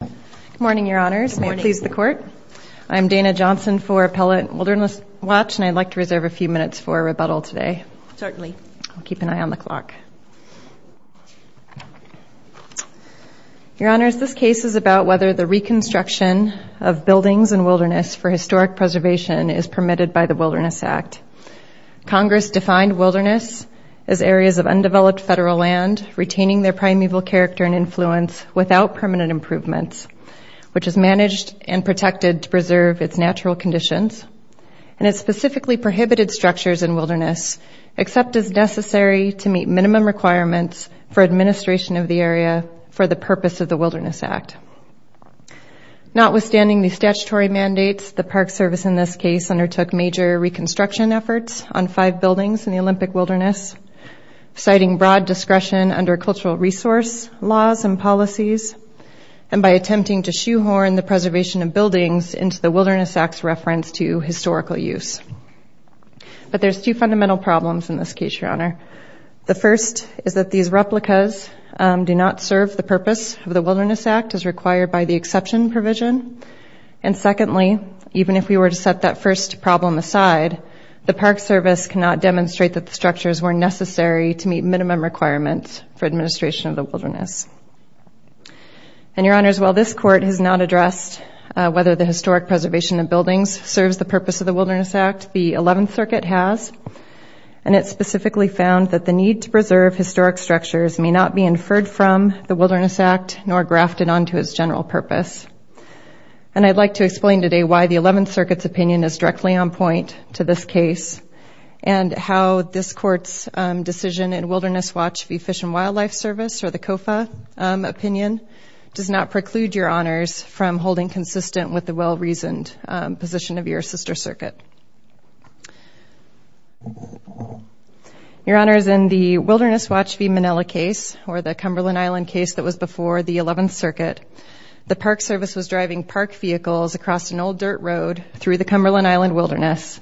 Good morning, Your Honors. May it please the Court. I'm Dana Johnson for Appellate Wilderness Watch, and I'd like to reserve a few minutes for a rebuttal today. Certainly. I'll keep an eye on the clock. Your Honors, this case is about whether the reconstruction of buildings and wilderness for historic preservation is permitted by the Wilderness Act. Congress defined wilderness as areas of undeveloped federal land retaining their primeval character and influence without permanent improvements, which is managed and protected to preserve its natural conditions and its specifically prohibited structures in wilderness, except as necessary to meet minimum requirements for administration of the area for the purpose of the Wilderness Act. Notwithstanding the statutory mandates, the Park Service in this case undertook major reconstruction efforts on five buildings in the Olympic Wilderness, citing broad discretion under cultural resource laws and policies, and by attempting to shoehorn the preservation of buildings into the Wilderness Act's reference to historical use. But there's two fundamental problems in this case, Your Honor. The first is that these replicas do not serve the purpose of the Wilderness Act as required by the exception provision, and secondly, even if we were to set that first problem aside, the Park Service cannot demonstrate that the structures were necessary to meet minimum requirements for administration of the wilderness. And, Your Honors, while this Court has not addressed whether the historic preservation of buildings serves the purpose of the Wilderness Act, the 11th Circuit has, and it specifically found that the need to preserve historic structures may not be inferred from the Wilderness Act nor grafted onto its general purpose. And I'd like to explain today why the 11th Circuit's opinion is directly on point to this case, and how this Court's decision in Wilderness Watch v. Fish and Wildlife Service, or the COFA opinion, does not preclude Your Honors from holding consistent with the well-reasoned position of your sister circuit. Your Honors, in the Wilderness Watch v. Manila case, or the Cumberland Island case that was Cumberland Island Wilderness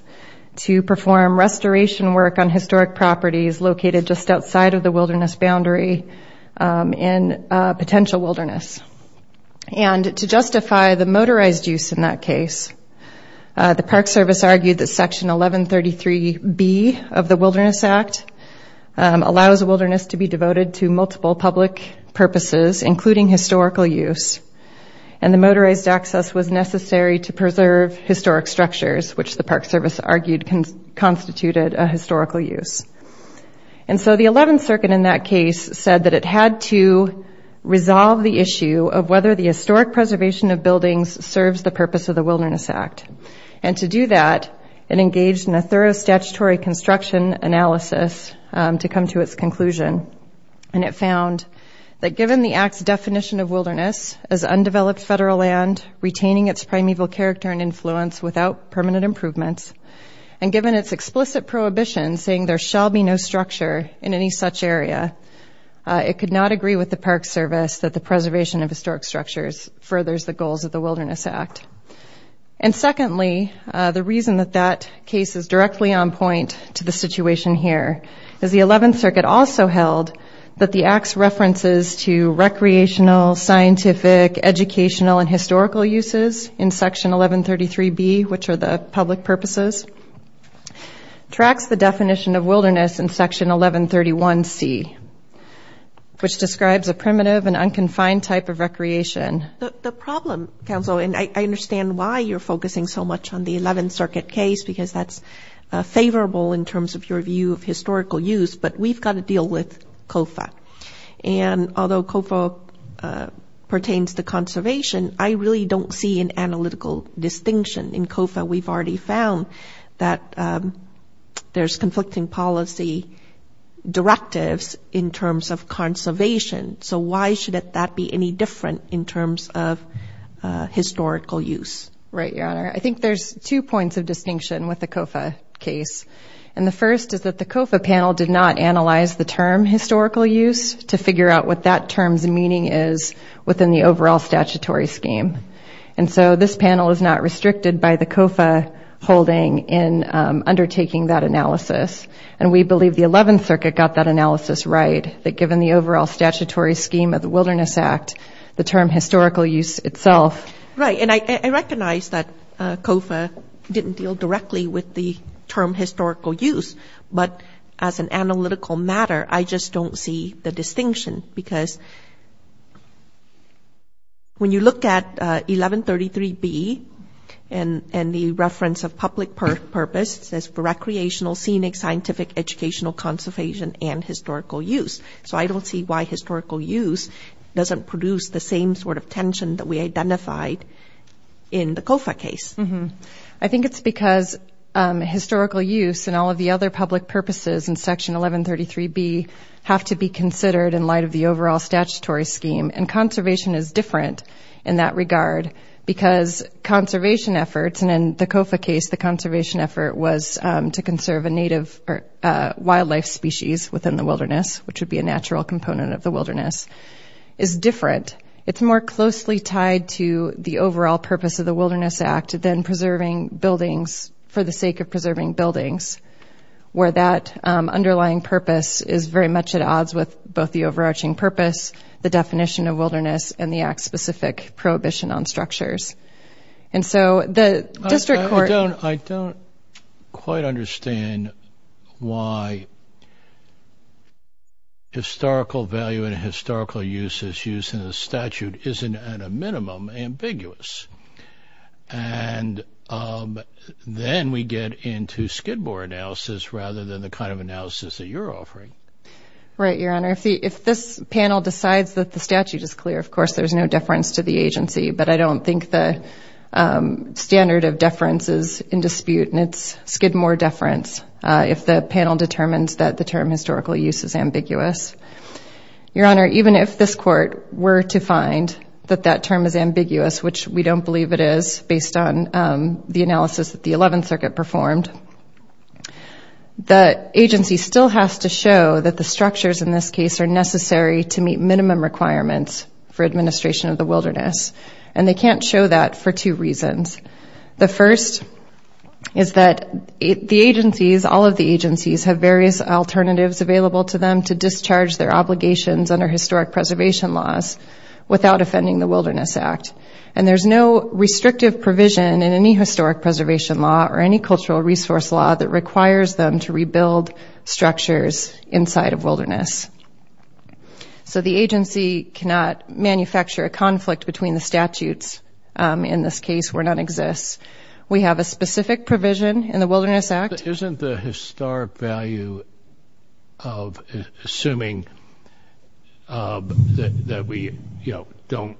to perform restoration work on historic properties located just outside of the wilderness boundary in a potential wilderness. And to justify the motorized use in that case, the Park Service argued that Section 1133B of the Wilderness Act allows wilderness to be devoted to multiple public purposes, including historical use, and the structures, which the Park Service argued constituted a historical use. And so the 11th Circuit in that case said that it had to resolve the issue of whether the historic preservation of buildings serves the purpose of the Wilderness Act. And to do that, it engaged in a thorough statutory construction analysis to come to its conclusion. And it found that given the Act's definition of wilderness as undeveloped federal land, retaining its primeval character and influence without permanent improvements, and given its explicit prohibition saying there shall be no structure in any such area, it could not agree with the Park Service that the preservation of historic structures furthers the goals of the Wilderness Act. And secondly, the reason that that case is directly on point to the situation here is the 11th Circuit also held that the Act's references to recreational, scientific, educational, and historical uses in Section 1133B, which are the public purposes, tracks the definition of wilderness in Section 1131C, which describes a primitive and unconfined type of recreation. The problem, counsel, and I understand why you're focusing so much on the 11th Circuit case because that's favorable in terms of your view of historical use, but we've got to deal with COFA. And although COFA pertains to conservation, I really don't see an analytical distinction. In COFA, we've already found that there's conflicting policy directives in terms of conservation. So why should that be any different in terms of historical use? Right, Your Honor. I think there's two points of distinction with the COFA case. And the COFA panel did not analyze the term historical use to figure out what that term's meaning is within the overall statutory scheme. And so this panel is not restricted by the COFA holding in undertaking that analysis. And we believe the 11th Circuit got that analysis right that given the overall statutory scheme of the Wilderness Act, the term historical use itself. Right, and I recognize that COFA didn't deal directly with the term historical use, but as an analytical matter, I just don't see the distinction because when you look at 1133B and the reference of public purpose, it says for recreational, scenic, scientific, educational, conservation, and historical use. So I don't see why historical use doesn't produce the same sort of tension that we identified in the COFA case. I think it's because historical use and all of the other public purposes in Section 1133B have to be considered in light of the overall statutory scheme. And conservation is different in that regard because conservation efforts, and in the COFA case, the conservation effort was to conserve a native wildlife species within the wilderness, which would be a natural component of the wilderness, is different. It's more closely tied to the overall purpose of the Wilderness Act than preserving buildings for the sake of preserving buildings, where that underlying purpose is very much at odds with both the overarching purpose, the definition of wilderness, and the act-specific prohibition on structures. And so the district court... statute isn't, at a minimum, ambiguous. And then we get into Skidmore analysis rather than the kind of analysis that you're offering. Right, Your Honor. If this panel decides that the statute is clear, of course, there's no deference to the agency, but I don't think the standard of deference is in dispute, and it's Skidmore deference if the panel determines that the term historical use is ambiguous. Your Honor, even if this court were to find that that term is ambiguous, which we don't believe it is based on the analysis that the 11th Circuit performed, the agency still has to show that the structures in this case are necessary to meet minimum requirements for administration of the wilderness. And they can't show that for two reasons. The first is that the agencies, all of the agencies, have various alternatives available to them to discharge their obligations under historic preservation laws without offending the Wilderness Act. And there's no restrictive provision in any historic preservation law or any cultural resource law that requires them to rebuild structures inside of wilderness. So the agency cannot manufacture a conflict between the statutes in this case where none exists. We have a specific provision in the Wilderness Act. But isn't the historic value of assuming that we, you know, don't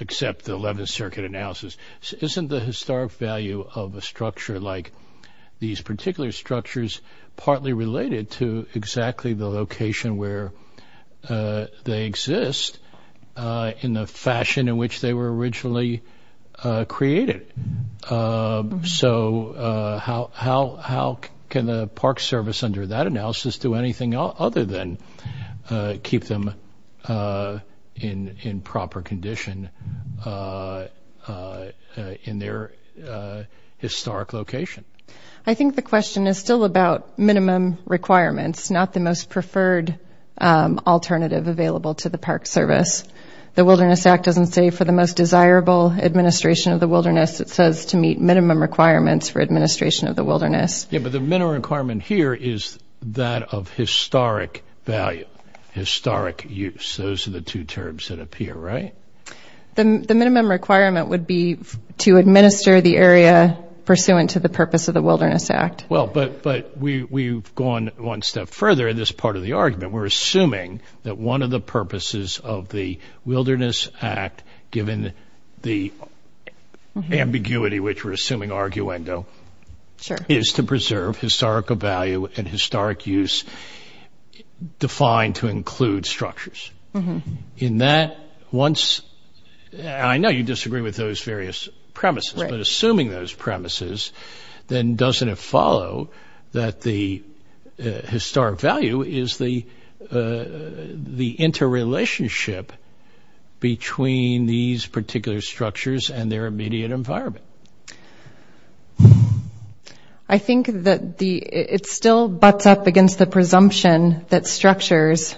accept the 11th Circuit analysis, isn't the historic value of a structure like these particular structures partly related to exactly the location where they exist in the fashion in which they were originally created? So how can the Park Service under that analysis do anything other than keep them in proper condition in their historic location? I think the question is still about minimum requirements, not the most preferred alternative available to the Park Service. The Wilderness Act doesn't say for the most desirable administration of the wilderness. It says to meet minimum requirements for administration of the wilderness. Yeah, but the minimum requirement here is that of historic value, historic use. Those are the two terms that appear, right? The minimum requirement would be to administer the area pursuant to the purpose of the Wilderness Act. Well, but we've gone one step further in this part of the argument. We're assuming that one of the purposes of the Wilderness Act, given the ambiguity which we're assuming, arguendo, is to preserve historical value and historic use defined to include structures. In that, once, I know you disagree with those various premises, but assuming those premises, then doesn't it follow that the historic value is the interrelationship between these particular structures and their immediate environment? I think that it still butts up against the presumption that structures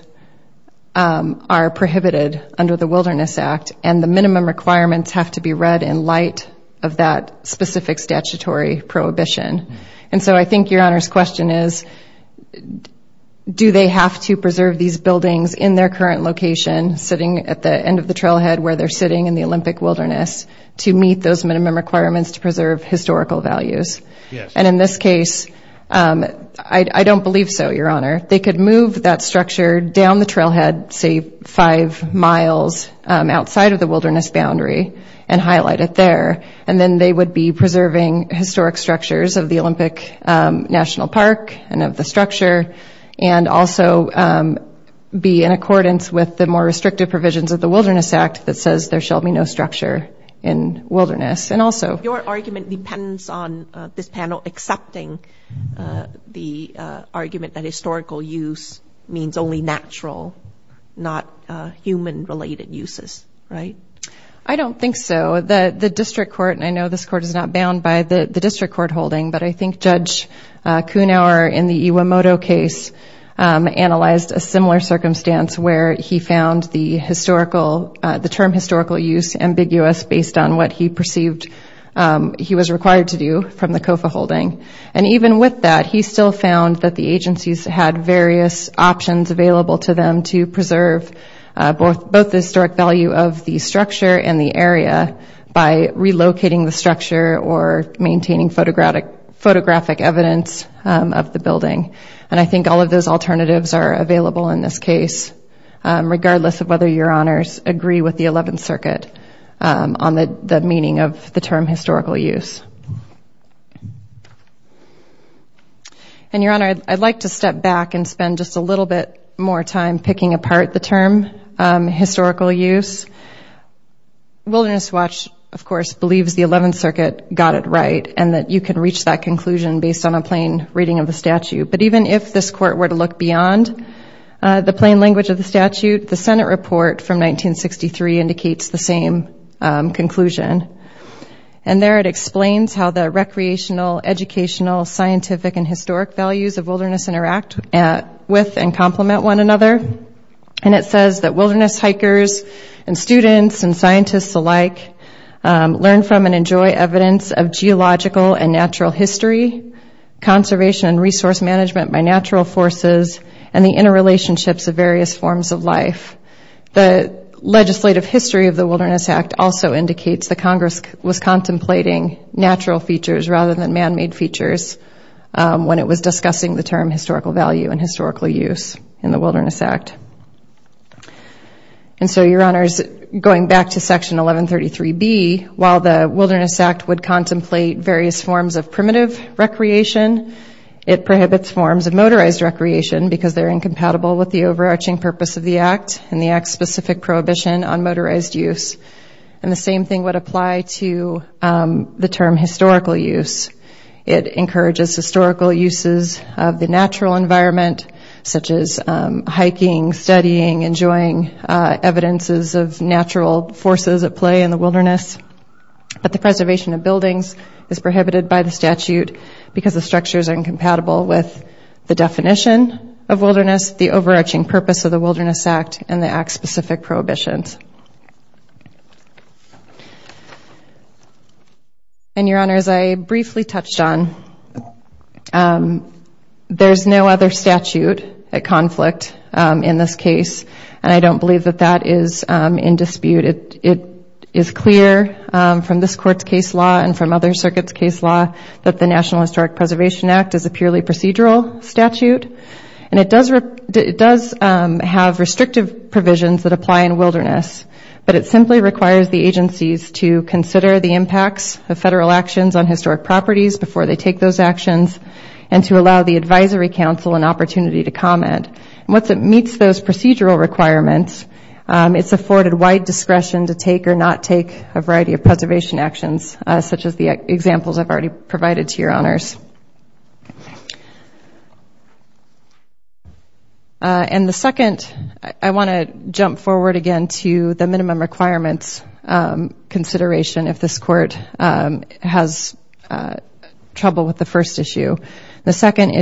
are prohibited under the Wilderness Act, and the minimum requirements have to be read in light of that specific statutory prohibition. I think Your Honor's question is, do they have to preserve these buildings in their current location, sitting at the end of the trailhead where they're sitting in the Olympic wilderness, to meet those minimum requirements to preserve historical values? In this case, I don't believe so, Your Honor. They could move that structure down the trailhead, say five miles outside of the wilderness boundary, and highlight it there. Then they would be preserving historic structures of the Olympic National Park, and of the structure, and also be in accordance with the more restrictive provisions of the Wilderness Act that says there shall be no structure in wilderness. Your argument depends on this panel accepting the argument that historical use means only natural, not human-related uses, right? I don't think so. The district court, and I know this court is not bound by the district court holding, but I think Judge Kuhnauer in the Iwamoto case analyzed a similar circumstance where he found the term historical use ambiguous based on what he perceived he was required to do from the COFA holding. Even with that, he still found that the agencies had various options available to them to preserve both the historic value of the structure and the area by relocating the structure or maintaining photographic evidence of the building. I think all of those alternatives are available in this case, regardless of whether Your Honors agree with the Eleventh Circuit on the meaning of the term historical use. Your Honor, I'd like to step back and spend just a little bit more time picking apart the term historical use. Wilderness Watch, of course, believes the Eleventh Circuit got it right and that you can reach that conclusion based on a plain reading of the statute. But even if this court were to look beyond the plain language of the statute, the Senate report from 1963 indicates the same conclusion. And there it explains how the recreational, educational, scientific, and historic values of wilderness interact with and complement one another. And it says that wilderness hikers and students and scientists alike learn from and enjoy evidence of geological and natural history, conservation and resource management by natural forces, and the interrelationships of various forms of life. The legislative history of the Wilderness Act also indicates the Congress was contemplating natural features rather than man-made features when it was discussing the term historical value and historical use in the Wilderness Act. And so, Your Honors, going back to Section 1133B, while the Wilderness Act would contemplate various forms of primitive recreation, it prohibits forms of motorized recreation because they're incompatible with the overarching purpose of the Act and the Act's specific prohibition on motorized use. And the same thing would apply to the term historical use. It encourages historical uses of the natural environment, such as hiking, studying, enjoying evidences of natural forces at play in the wilderness. But the preservation of buildings is prohibited by the statute because the structures are incompatible with the definition of wilderness, the overarching purpose of the Wilderness Act, and the Act's specific prohibitions. And, Your Honors, I briefly touched on there's no other statute at conflict in this case, and I don't believe that that is in dispute. It is clear from this Court's case law and from other circuits' case law that the National Historic Preservation Act is a purely procedural statute, and it does have restrictive provisions that apply in wilderness, but it simply requires the agencies to consider the impacts of federal actions on historic properties before they take those actions, and to allow the Advisory Council an opportunity to comment. And once it meets those procedural requirements, it's afforded wide discretion to take or not take a variety of preservation actions, such as the examples I've already provided to Your Honors. And the second, I want to jump forward again to the minimum requirements consideration if this Court has trouble with the first issue. The second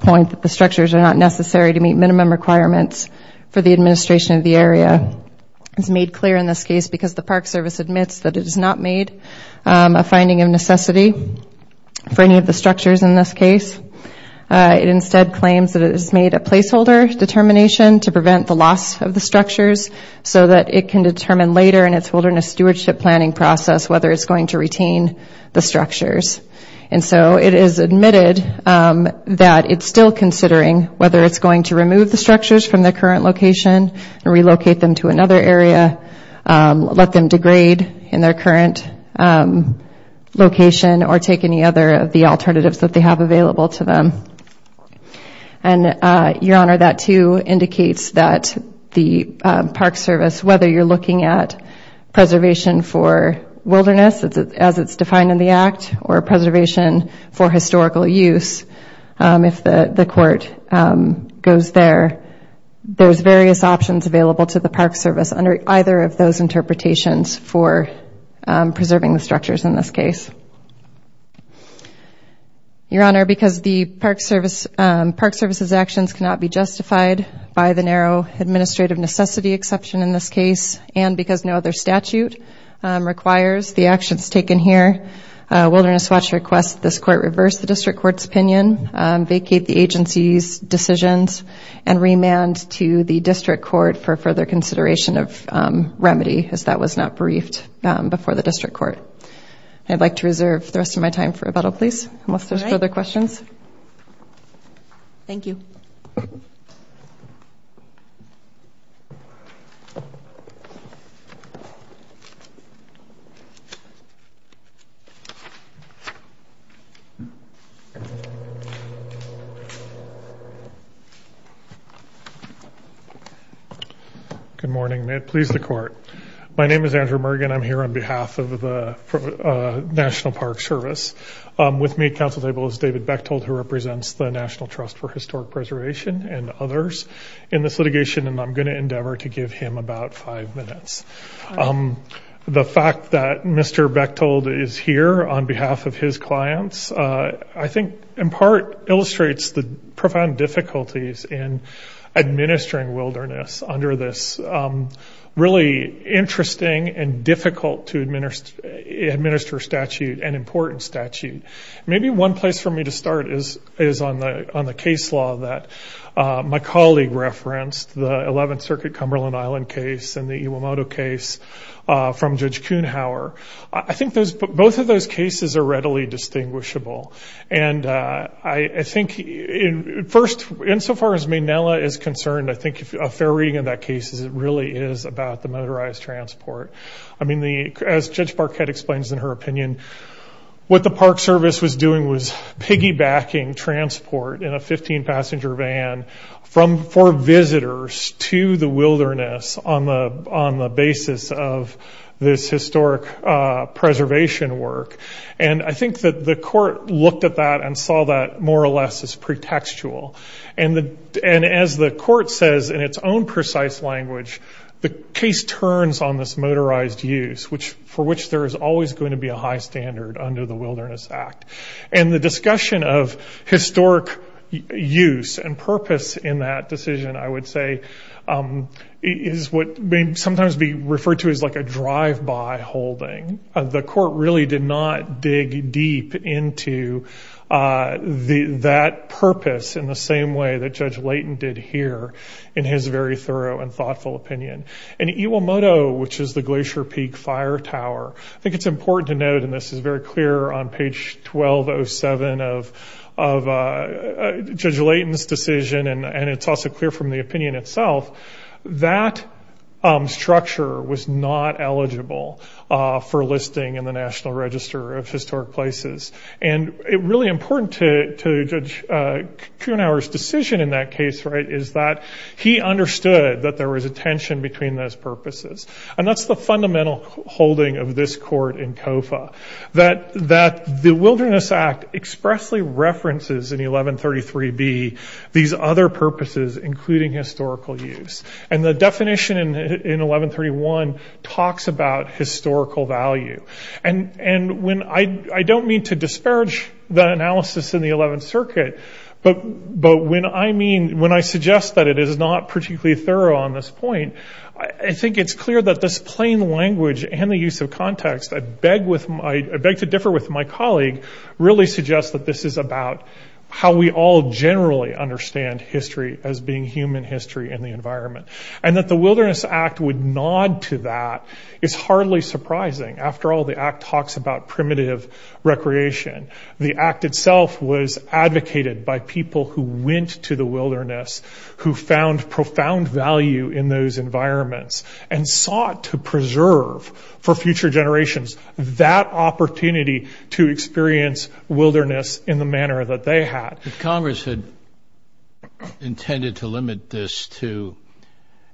point that the structures are not necessary to meet minimum requirements for the administration of the area is made clear in this case because the Park Service admits that it has not made a finding of necessity for any of the structures in this case. It instead claims that it has made a placeholder determination to prevent the loss of the structures so that it can determine later in its wilderness stewardship planning process whether it's admitted that it's still considering whether it's going to remove the structures from their current location and relocate them to another area, let them degrade in their current location, or take any other of the alternatives that they have available to them. And Your Honor, that too indicates that the Park Service, whether you're looking at preservation for historical use, if the Court goes there, there's various options available to the Park Service under either of those interpretations for preserving the structures in this case. Your Honor, because the Park Service's actions cannot be justified by the narrow administrative necessity exception in this case, and because no other statute requires the actions taken here, Wilderness Watch requests this Court reverse the District Court's opinion, vacate the agency's decisions, and remand to the District Court for further consideration of remedy, as that was not briefed before the District Court. I'd like to reserve the rest of my time for rebuttal, please, unless there's further questions. Thank you. Good morning, may it please the Court. My name is Andrew Mergen, I'm here on behalf of the National Park Service. With me at the Council table is David Bechtold, who represents the National Trust for Historic Preservation and others in this litigation, and I'm going to endeavor to give him about five minutes. The fact that Mr. Bechtold is here on behalf of his clients, I think, in part, illustrates the profound difficulties in administering wilderness under this really interesting and difficult to administer statute, and important statute. Maybe one place for me to start is on the case law that my colleague referenced, the 11th Circuit Cumberland Island case and the Iwamoto case from Judge Kuhnhauer. I think both of those cases are readily distinguishable, and I think, first, insofar as Maynella is concerned, I think a fair reading of that case is it really is about the motorized transport. As Judge Barquette explains in her opinion, what the Park Service was doing was piggybacking transport in a 15-passenger van for visitors to the wilderness on the basis of this historic preservation work. I think that the court looked at that and saw that, more or less, as pretextual. As the court says in its own precise language, the case turns on this motorized use, for which there is always going to be a high standard under the Wilderness Act. The discussion of historic use and purpose in that decision, I would say, is what may sometimes be referred to as a drive-by holding. The court really did not dig deep into that purpose in the same way that Judge Layton did here in his very thorough and thoughtful opinion. Iwamoto, which is the Glacier Peak Fire Tower, I think it's important to note, and this is very clear on page 1207 of Judge Layton's decision, and it's also clear from the opinion itself, that structure was not eligible for listing in the National Register of Historic Places. It's really important to Judge Kuenhauer's decision in that case is that he understood that there was a tension between those purposes. That's the fundamental holding of this court in COFA. That the Wilderness Act expressly references in 1133B these other purposes, including historical use. And the definition in 1131 talks about historical value. And I don't mean to disparage the analysis in the Eleventh Circuit, but when I suggest that it is not particularly thorough on this point, I think it's clear that this plain language and the use of context, I beg to differ with my colleague, really suggests that this is about how we all generally understand history as being human history in the environment. And that the Wilderness Act would nod to that is hardly surprising. After all, the Act talks about primitive recreation. The Act itself was advocated by people who went to the wilderness, who found profound value in those environments, and sought to preserve for future generations that opportunity to experience wilderness in the manner that they had. Congress had intended to limit this to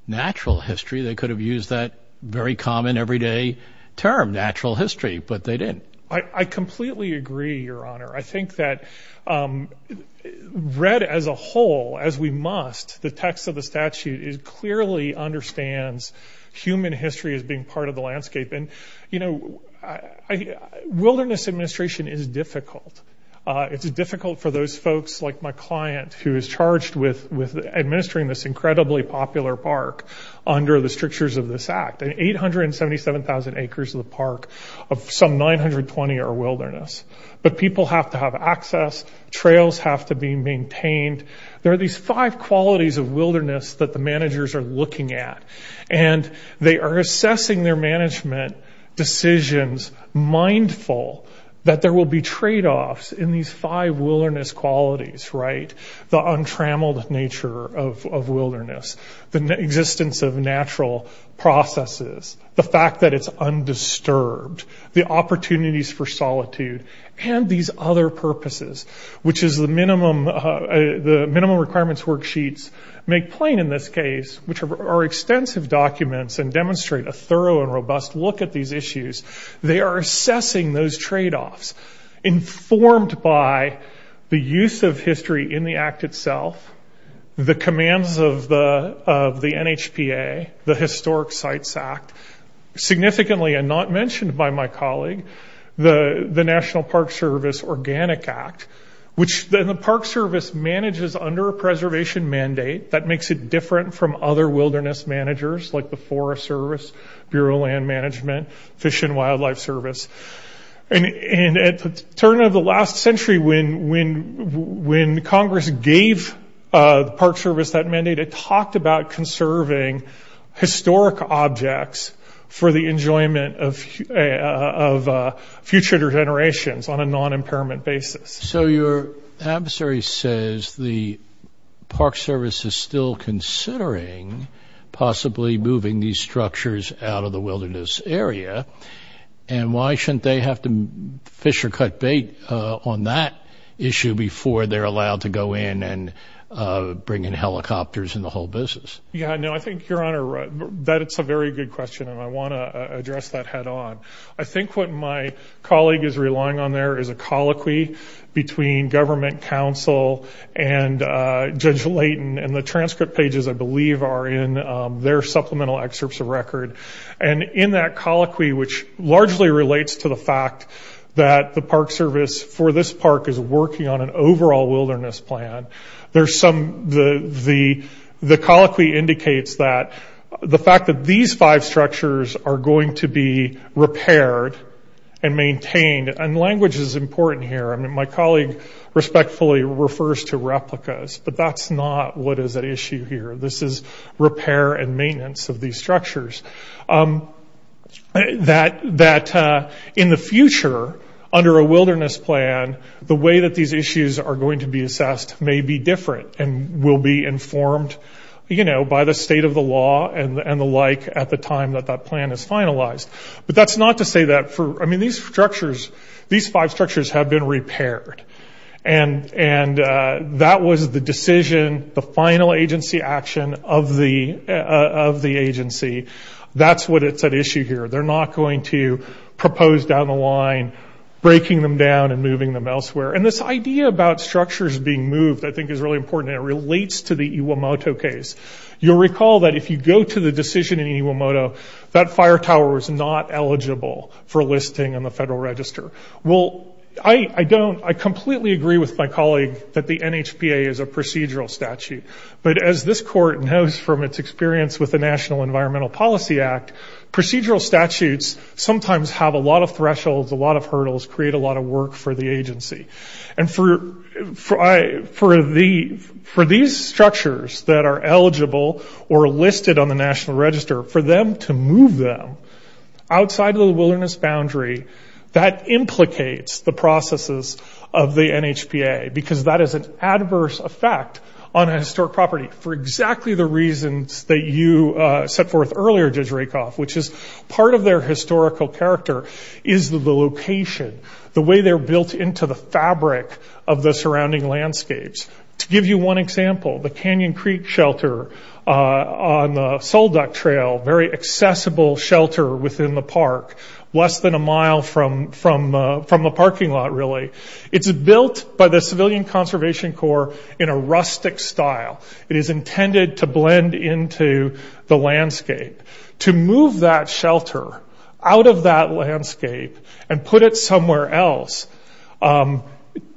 natural history. They could have used that very common everyday term, natural history, but they didn't. I completely agree, Your Honor. I think that read as a whole, as we must, the text of the statute clearly understands human history as being part of the landscape. And wilderness administration is difficult. It's difficult for those folks, like my client, who is charged with administering this incredibly popular park under the strictures of this Act. 877,000 acres of the park of some 920 are wilderness. But people have to have access, trails have to be maintained. There are these five qualities of wilderness that the managers are looking at. And they are assessing their management decisions mindful that there will be trade-offs in these five wilderness qualities, right? The untrammeled nature of wilderness, the wilderness undisturbed, the opportunities for solitude, and these other purposes, which is the minimum requirements worksheets make plain in this case, which are extensive documents and demonstrate a thorough and robust look at these issues. They are assessing those trade-offs informed by the use of history in the Act itself, the commands of the NHPA, the Historic Sites Act. Significantly and not mentioned by my colleague, the National Park Service Organic Act, which the Park Service manages under a preservation mandate that makes it different from other wilderness managers, like the Forest Service, Bureau of Land Management, Fish and Wildlife Service. And at the turn of the last century, when Congress gave the Act to the National Park Service, the National Park Service was not conserving historic objects for the enjoyment of future generations on a non-impairment basis. So your adversary says the Park Service is still considering possibly moving these structures out of the wilderness area. And why shouldn't they have to fish or cut bait on that issue before they're allowed to go in and bring in helicopters and the whole business? Yeah, no, I think, Your Honor, that's a very good question, and I want to address that head-on. I think what my colleague is relying on there is a colloquy between government counsel and Judge Layton, and the transcript pages, I believe, are in their supplemental excerpts of record. And in that colloquy, which largely relates to the fact that the Park Service for this park is working on an overall wilderness plan, there's some, the colloquy indicates that the fact that these five structures are going to be repaired and maintained, and language is important here. I mean, my colleague respectfully refers to replicas, but that's not what is at issue here. This is repair and maintenance of these structures. That in the future, under a wilderness plan, the way that these issues are going to be assessed may be different and will be informed, you know, by the state of the law and the like at the time that that plan is finalized. But that's not to say that for, I mean, these structures, these five structures have been repaired. And that was the decision, the final agency action of the agency. That's what is at issue here. They're not going to propose down the line breaking them down and moving them elsewhere. And this idea about structures being moved, I think, is really important, and it relates to the Iwamoto case. You'll recall that if you go to the decision in Iwamoto, that fire tower was not eligible for listing on the Federal Register. Well, I don't, I completely agree with my colleague that the NHPA is a procedural statute. But as this court knows from its experience with the National Environmental Policy Act, procedural statutes sometimes have a lot of thresholds, a lot of hurdles, create a lot of work for the agency. And for these structures that are eligible or listed on the National Register, for them to move them outside of the wilderness boundary, that implicates the processes of the NHPA, because that is an adverse effect on a historic property for exactly the reasons that you set forth earlier, Judge Rakoff, which is part of their historical character is the location, the way they're built into the fabric of the surrounding landscapes. To give you one example, the Canyon Creek Shelter on the Sulduck Trail, very accessible shelter within the park, less than a mile from the parking lot really, it's built by the Civilian Conservation Corps in a rustic style. It is intended to blend into the landscape. To move that shelter out of that landscape and put it somewhere else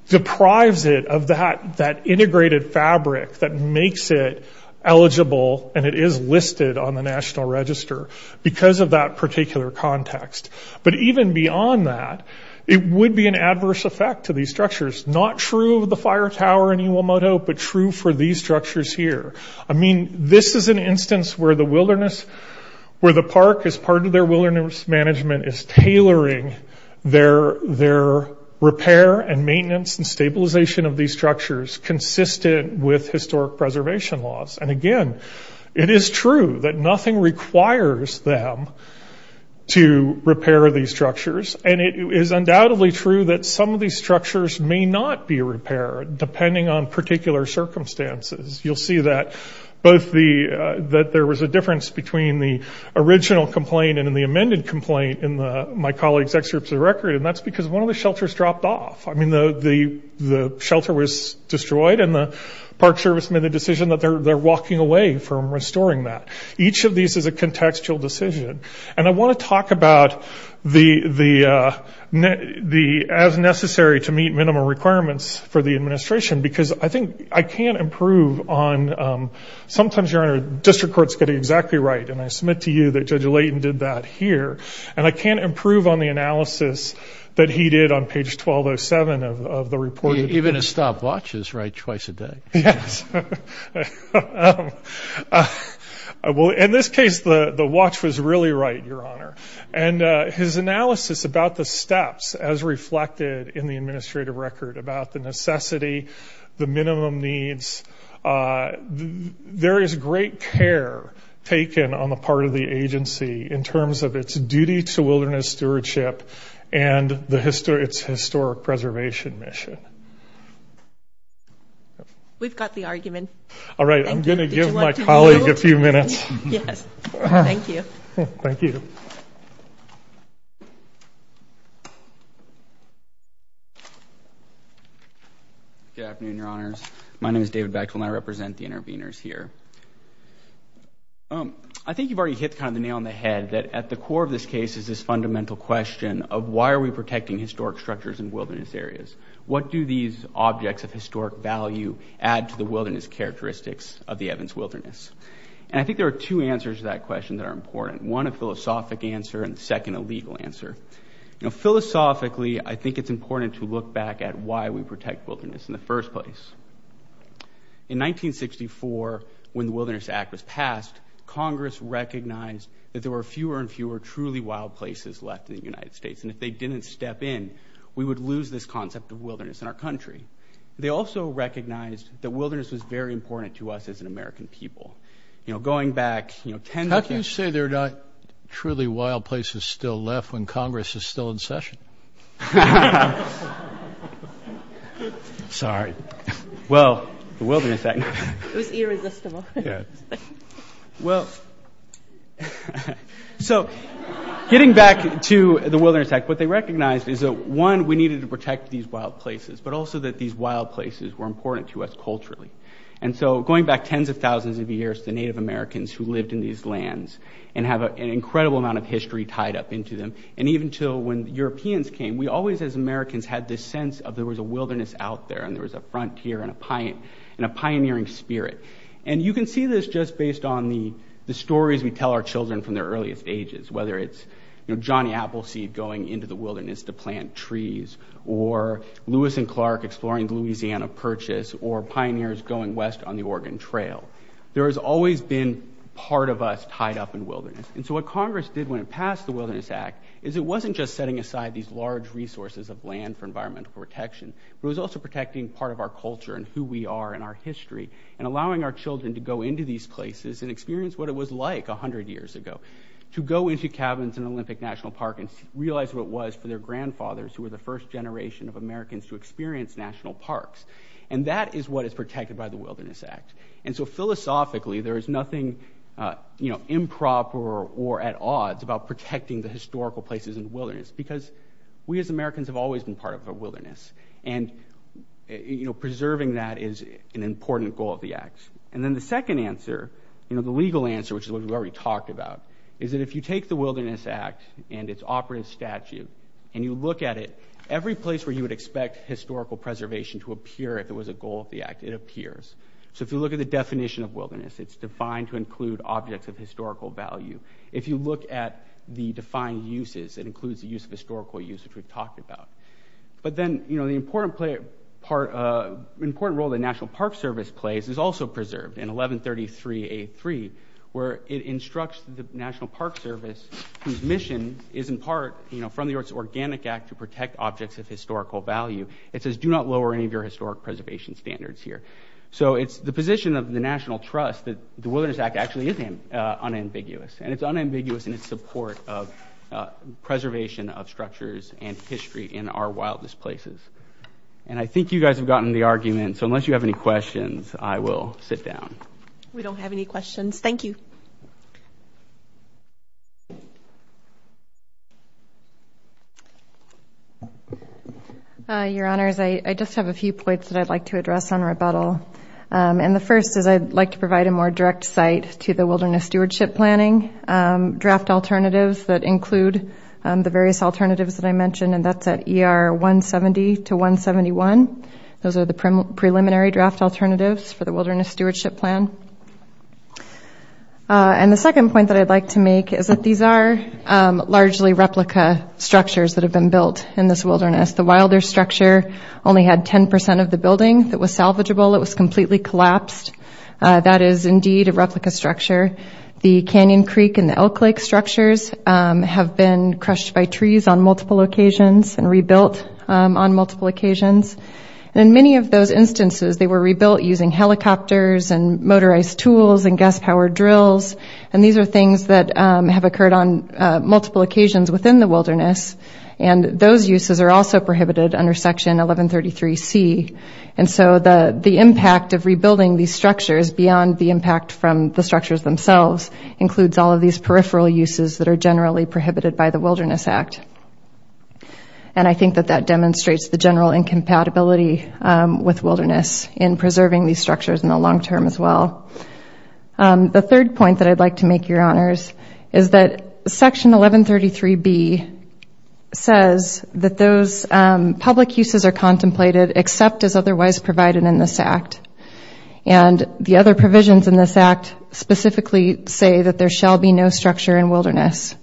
deprives it of that integrated fabric that makes it eligible and it is listed on the National Register because of that particular context. But even beyond that, it would be an adverse effect to these structures. Not true of the fire tower in Uomoto, but true for these structures here. I mean, this is an instance where the park, as part of their wilderness management, is tailoring their repair and maintenance and stabilization of these structures consistent with historic preservation laws. And again, it is true that nothing requires them to repair these structures and it is undoubtedly true that some of these structures may not be repaired depending on particular circumstances. You'll see that there was a difference between the original complaint and the amended complaint in my colleague's excerpts of the record and that's because one of the shelters dropped off. I mean, the shelter was destroyed and the Park Service made the decision that they're walking away from restoring that. Each of these is a contextual decision. And I want to talk about the as necessary to meet minimum requirements for the administration because I think I can't improve on – sometimes, Your Honor, district courts get it exactly right and I submit to you that Judge Layton did that here. And I can't improve on the analysis that he did on page 1207 of the report. Even his stopwatch is right twice a day. Yes. Well, in this case, the watch was really right, Your Honor. And his analysis about the steps as reflected in the administrative record about the necessity, the minimum needs, there is great care taken on the part of the agency in terms of its duty to wilderness stewardship and its historic preservation mission. We've got the argument. All right. I'm going to give my colleague a few minutes. Yes. Thank you. Thank you. Good afternoon, Your Honors. My name is David Bechtel, and I represent the interveners here. I think you've already hit kind of the nail on the head that at the core of this case is this fundamental question of why are we protecting historic structures and wilderness areas. What do these objects of historic value add to the wilderness characteristics of the Evans Wilderness? And I think there are two answers to that question that are important, one a philosophic answer and, second, a legal answer. Philosophically, I think it's important to look back at why we protect wilderness in the first place. In 1964, when the Wilderness Act was passed, Congress recognized that there were fewer and fewer truly wild places left in the United States, and if they didn't step in, we would lose this concept of wilderness in our country. They also recognized that wilderness was very important to us as an American people. How can you say there are not truly wild places still left when Congress is still in session? Sorry. Well, the Wilderness Act. It was irresistible. Yeah. Well, so getting back to the Wilderness Act, what they recognized is that, one, we needed to protect these wild places, but also that these wild places were important to us culturally. And so going back tens of thousands of years to Native Americans who lived in these lands and have an incredible amount of history tied up into them, and even to when Europeans came, we always, as Americans, had this sense of there was a wilderness out there and there was a frontier and a pioneering spirit. And you can see this just based on the stories we tell our children from their earliest ages, whether it's Johnny Appleseed going into the wilderness to plant trees or Lewis and Clark exploring the Louisiana Purchase or pioneers going west on the Oregon Trail. There has always been part of us tied up in wilderness. And so what Congress did when it passed the Wilderness Act is it wasn't just setting aside these large resources of land for environmental protection, but it was also protecting part of our culture and who we are and our history and allowing our children to go into these places and experience what it was like 100 years ago. To go into cabins in Olympic National Park and realize what it was for their grandfathers who were the first generation of Americans to experience national parks. And that is what is protected by the Wilderness Act. And so philosophically, there is nothing improper or at odds about protecting the historical places in the wilderness because we as Americans have always been part of a wilderness. And preserving that is an important goal of the act. And then the second answer, the legal answer, which is what we've already talked about, is that if you take the Wilderness Act and its operative statute and you look at it, every place where you would expect historical preservation to appear if it was a goal of the act, it appears. So if you look at the definition of wilderness, it's defined to include objects of historical value. If you look at the defined uses, it includes the use of historical use, which we've talked about. But then the important role the National Park Service plays is also preserved in 1133A3 where it instructs the National Park Service whose mission is in part from the organic act to protect objects of historical value. It says do not lower any of your historic preservation standards here. So it's the position of the National Trust that the Wilderness Act actually is unambiguous. And it's unambiguous in its support of preservation of structures and history in our wildest places. And I think you guys have gotten the argument, so unless you have any questions, I will sit down. We don't have any questions. Thank you. Your Honors, I just have a few points that I'd like to address on rebuttal. And the first is I'd like to provide a more direct site to the wilderness stewardship planning draft alternatives that include the various alternatives that I mentioned, and that's at ER 170 to 171. Those are the preliminary draft alternatives for the wilderness stewardship plan. And the second point that I'd like to make is that these are largely replica structures that have been built in this wilderness. The Wilder structure only had 10% of the building that was salvageable. It was completely collapsed. That is indeed a replica structure. The Canyon Creek and the Elk Lake structures have been crushed by trees on multiple occasions and rebuilt on multiple occasions. And in many of those instances, they were rebuilt using helicopters and motorized tools and gas-powered drills. And these are things that have occurred on multiple occasions within the wilderness. And those uses are also prohibited under Section 1133C. And so the impact of rebuilding these structures beyond the impact from the structures themselves includes all of these peripheral uses that are generally prohibited by the Wilderness Act. And I think that that demonstrates the general incompatibility with wilderness in preserving these structures in the long term as well. The third point that I'd like to make, Your Honors, is that Section 1133B says that those public uses are contemplated except as otherwise provided in this Act. And the other provisions in this Act specifically say that there shall be no structure in wilderness.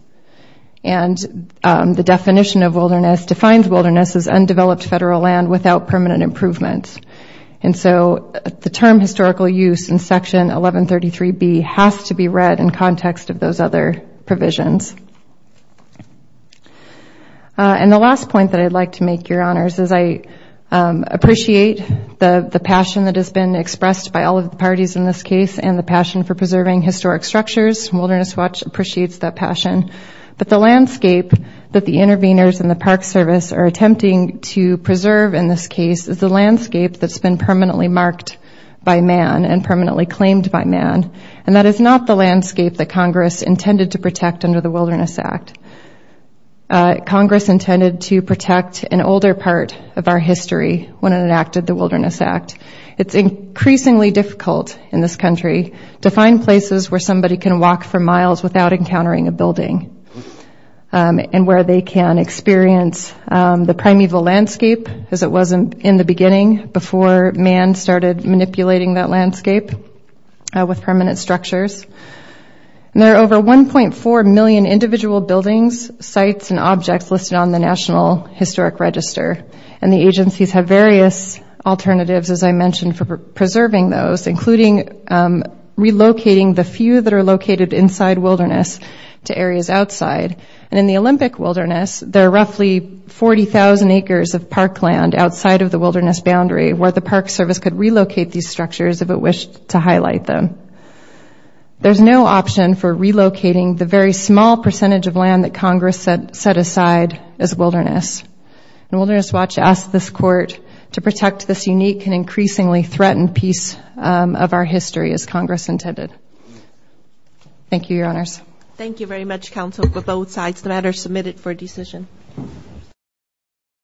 And the definition of wilderness defines wilderness as undeveloped federal land without permanent improvements. And so the term historical use in Section 1133B has to be read in context of those other provisions. And the last point that I'd like to make, Your Honors, is I appreciate the passion that has been expressed by all of the parties in this case and the passion for preserving historic structures. Wilderness Watch appreciates that passion. But the landscape that the interveners in the Park Service are attempting to preserve in this case is the landscape that's been permanently marked by man and permanently claimed by man. And that is not the landscape that Congress intended to protect under the Wilderness Act. Congress intended to protect an older part of our history when it enacted the Wilderness Act. It's increasingly difficult in this country to find places where somebody can walk for miles without encountering a building and where they can experience the primeval landscape as it was in the beginning before man started manipulating that landscape with permanent structures. There are over 1.4 million individual buildings, sites, and objects listed on the National Historic Register. And the agencies have various alternatives, as I mentioned, for preserving those, including relocating the few that are located inside wilderness to areas outside. And in the Olympic Wilderness, there are roughly 40,000 acres of parkland outside of the wilderness boundary where the Park Service could relocate these structures if it wished to highlight them. There's no option for relocating the very small percentage of land that Congress set aside as wilderness. And Wilderness Watch asks this Court to protect this unique and increasingly threatened piece of our history, as Congress intended. Thank you, Your Honors. Thank you very much, Counsel, for both sides. The matter is submitted for decision.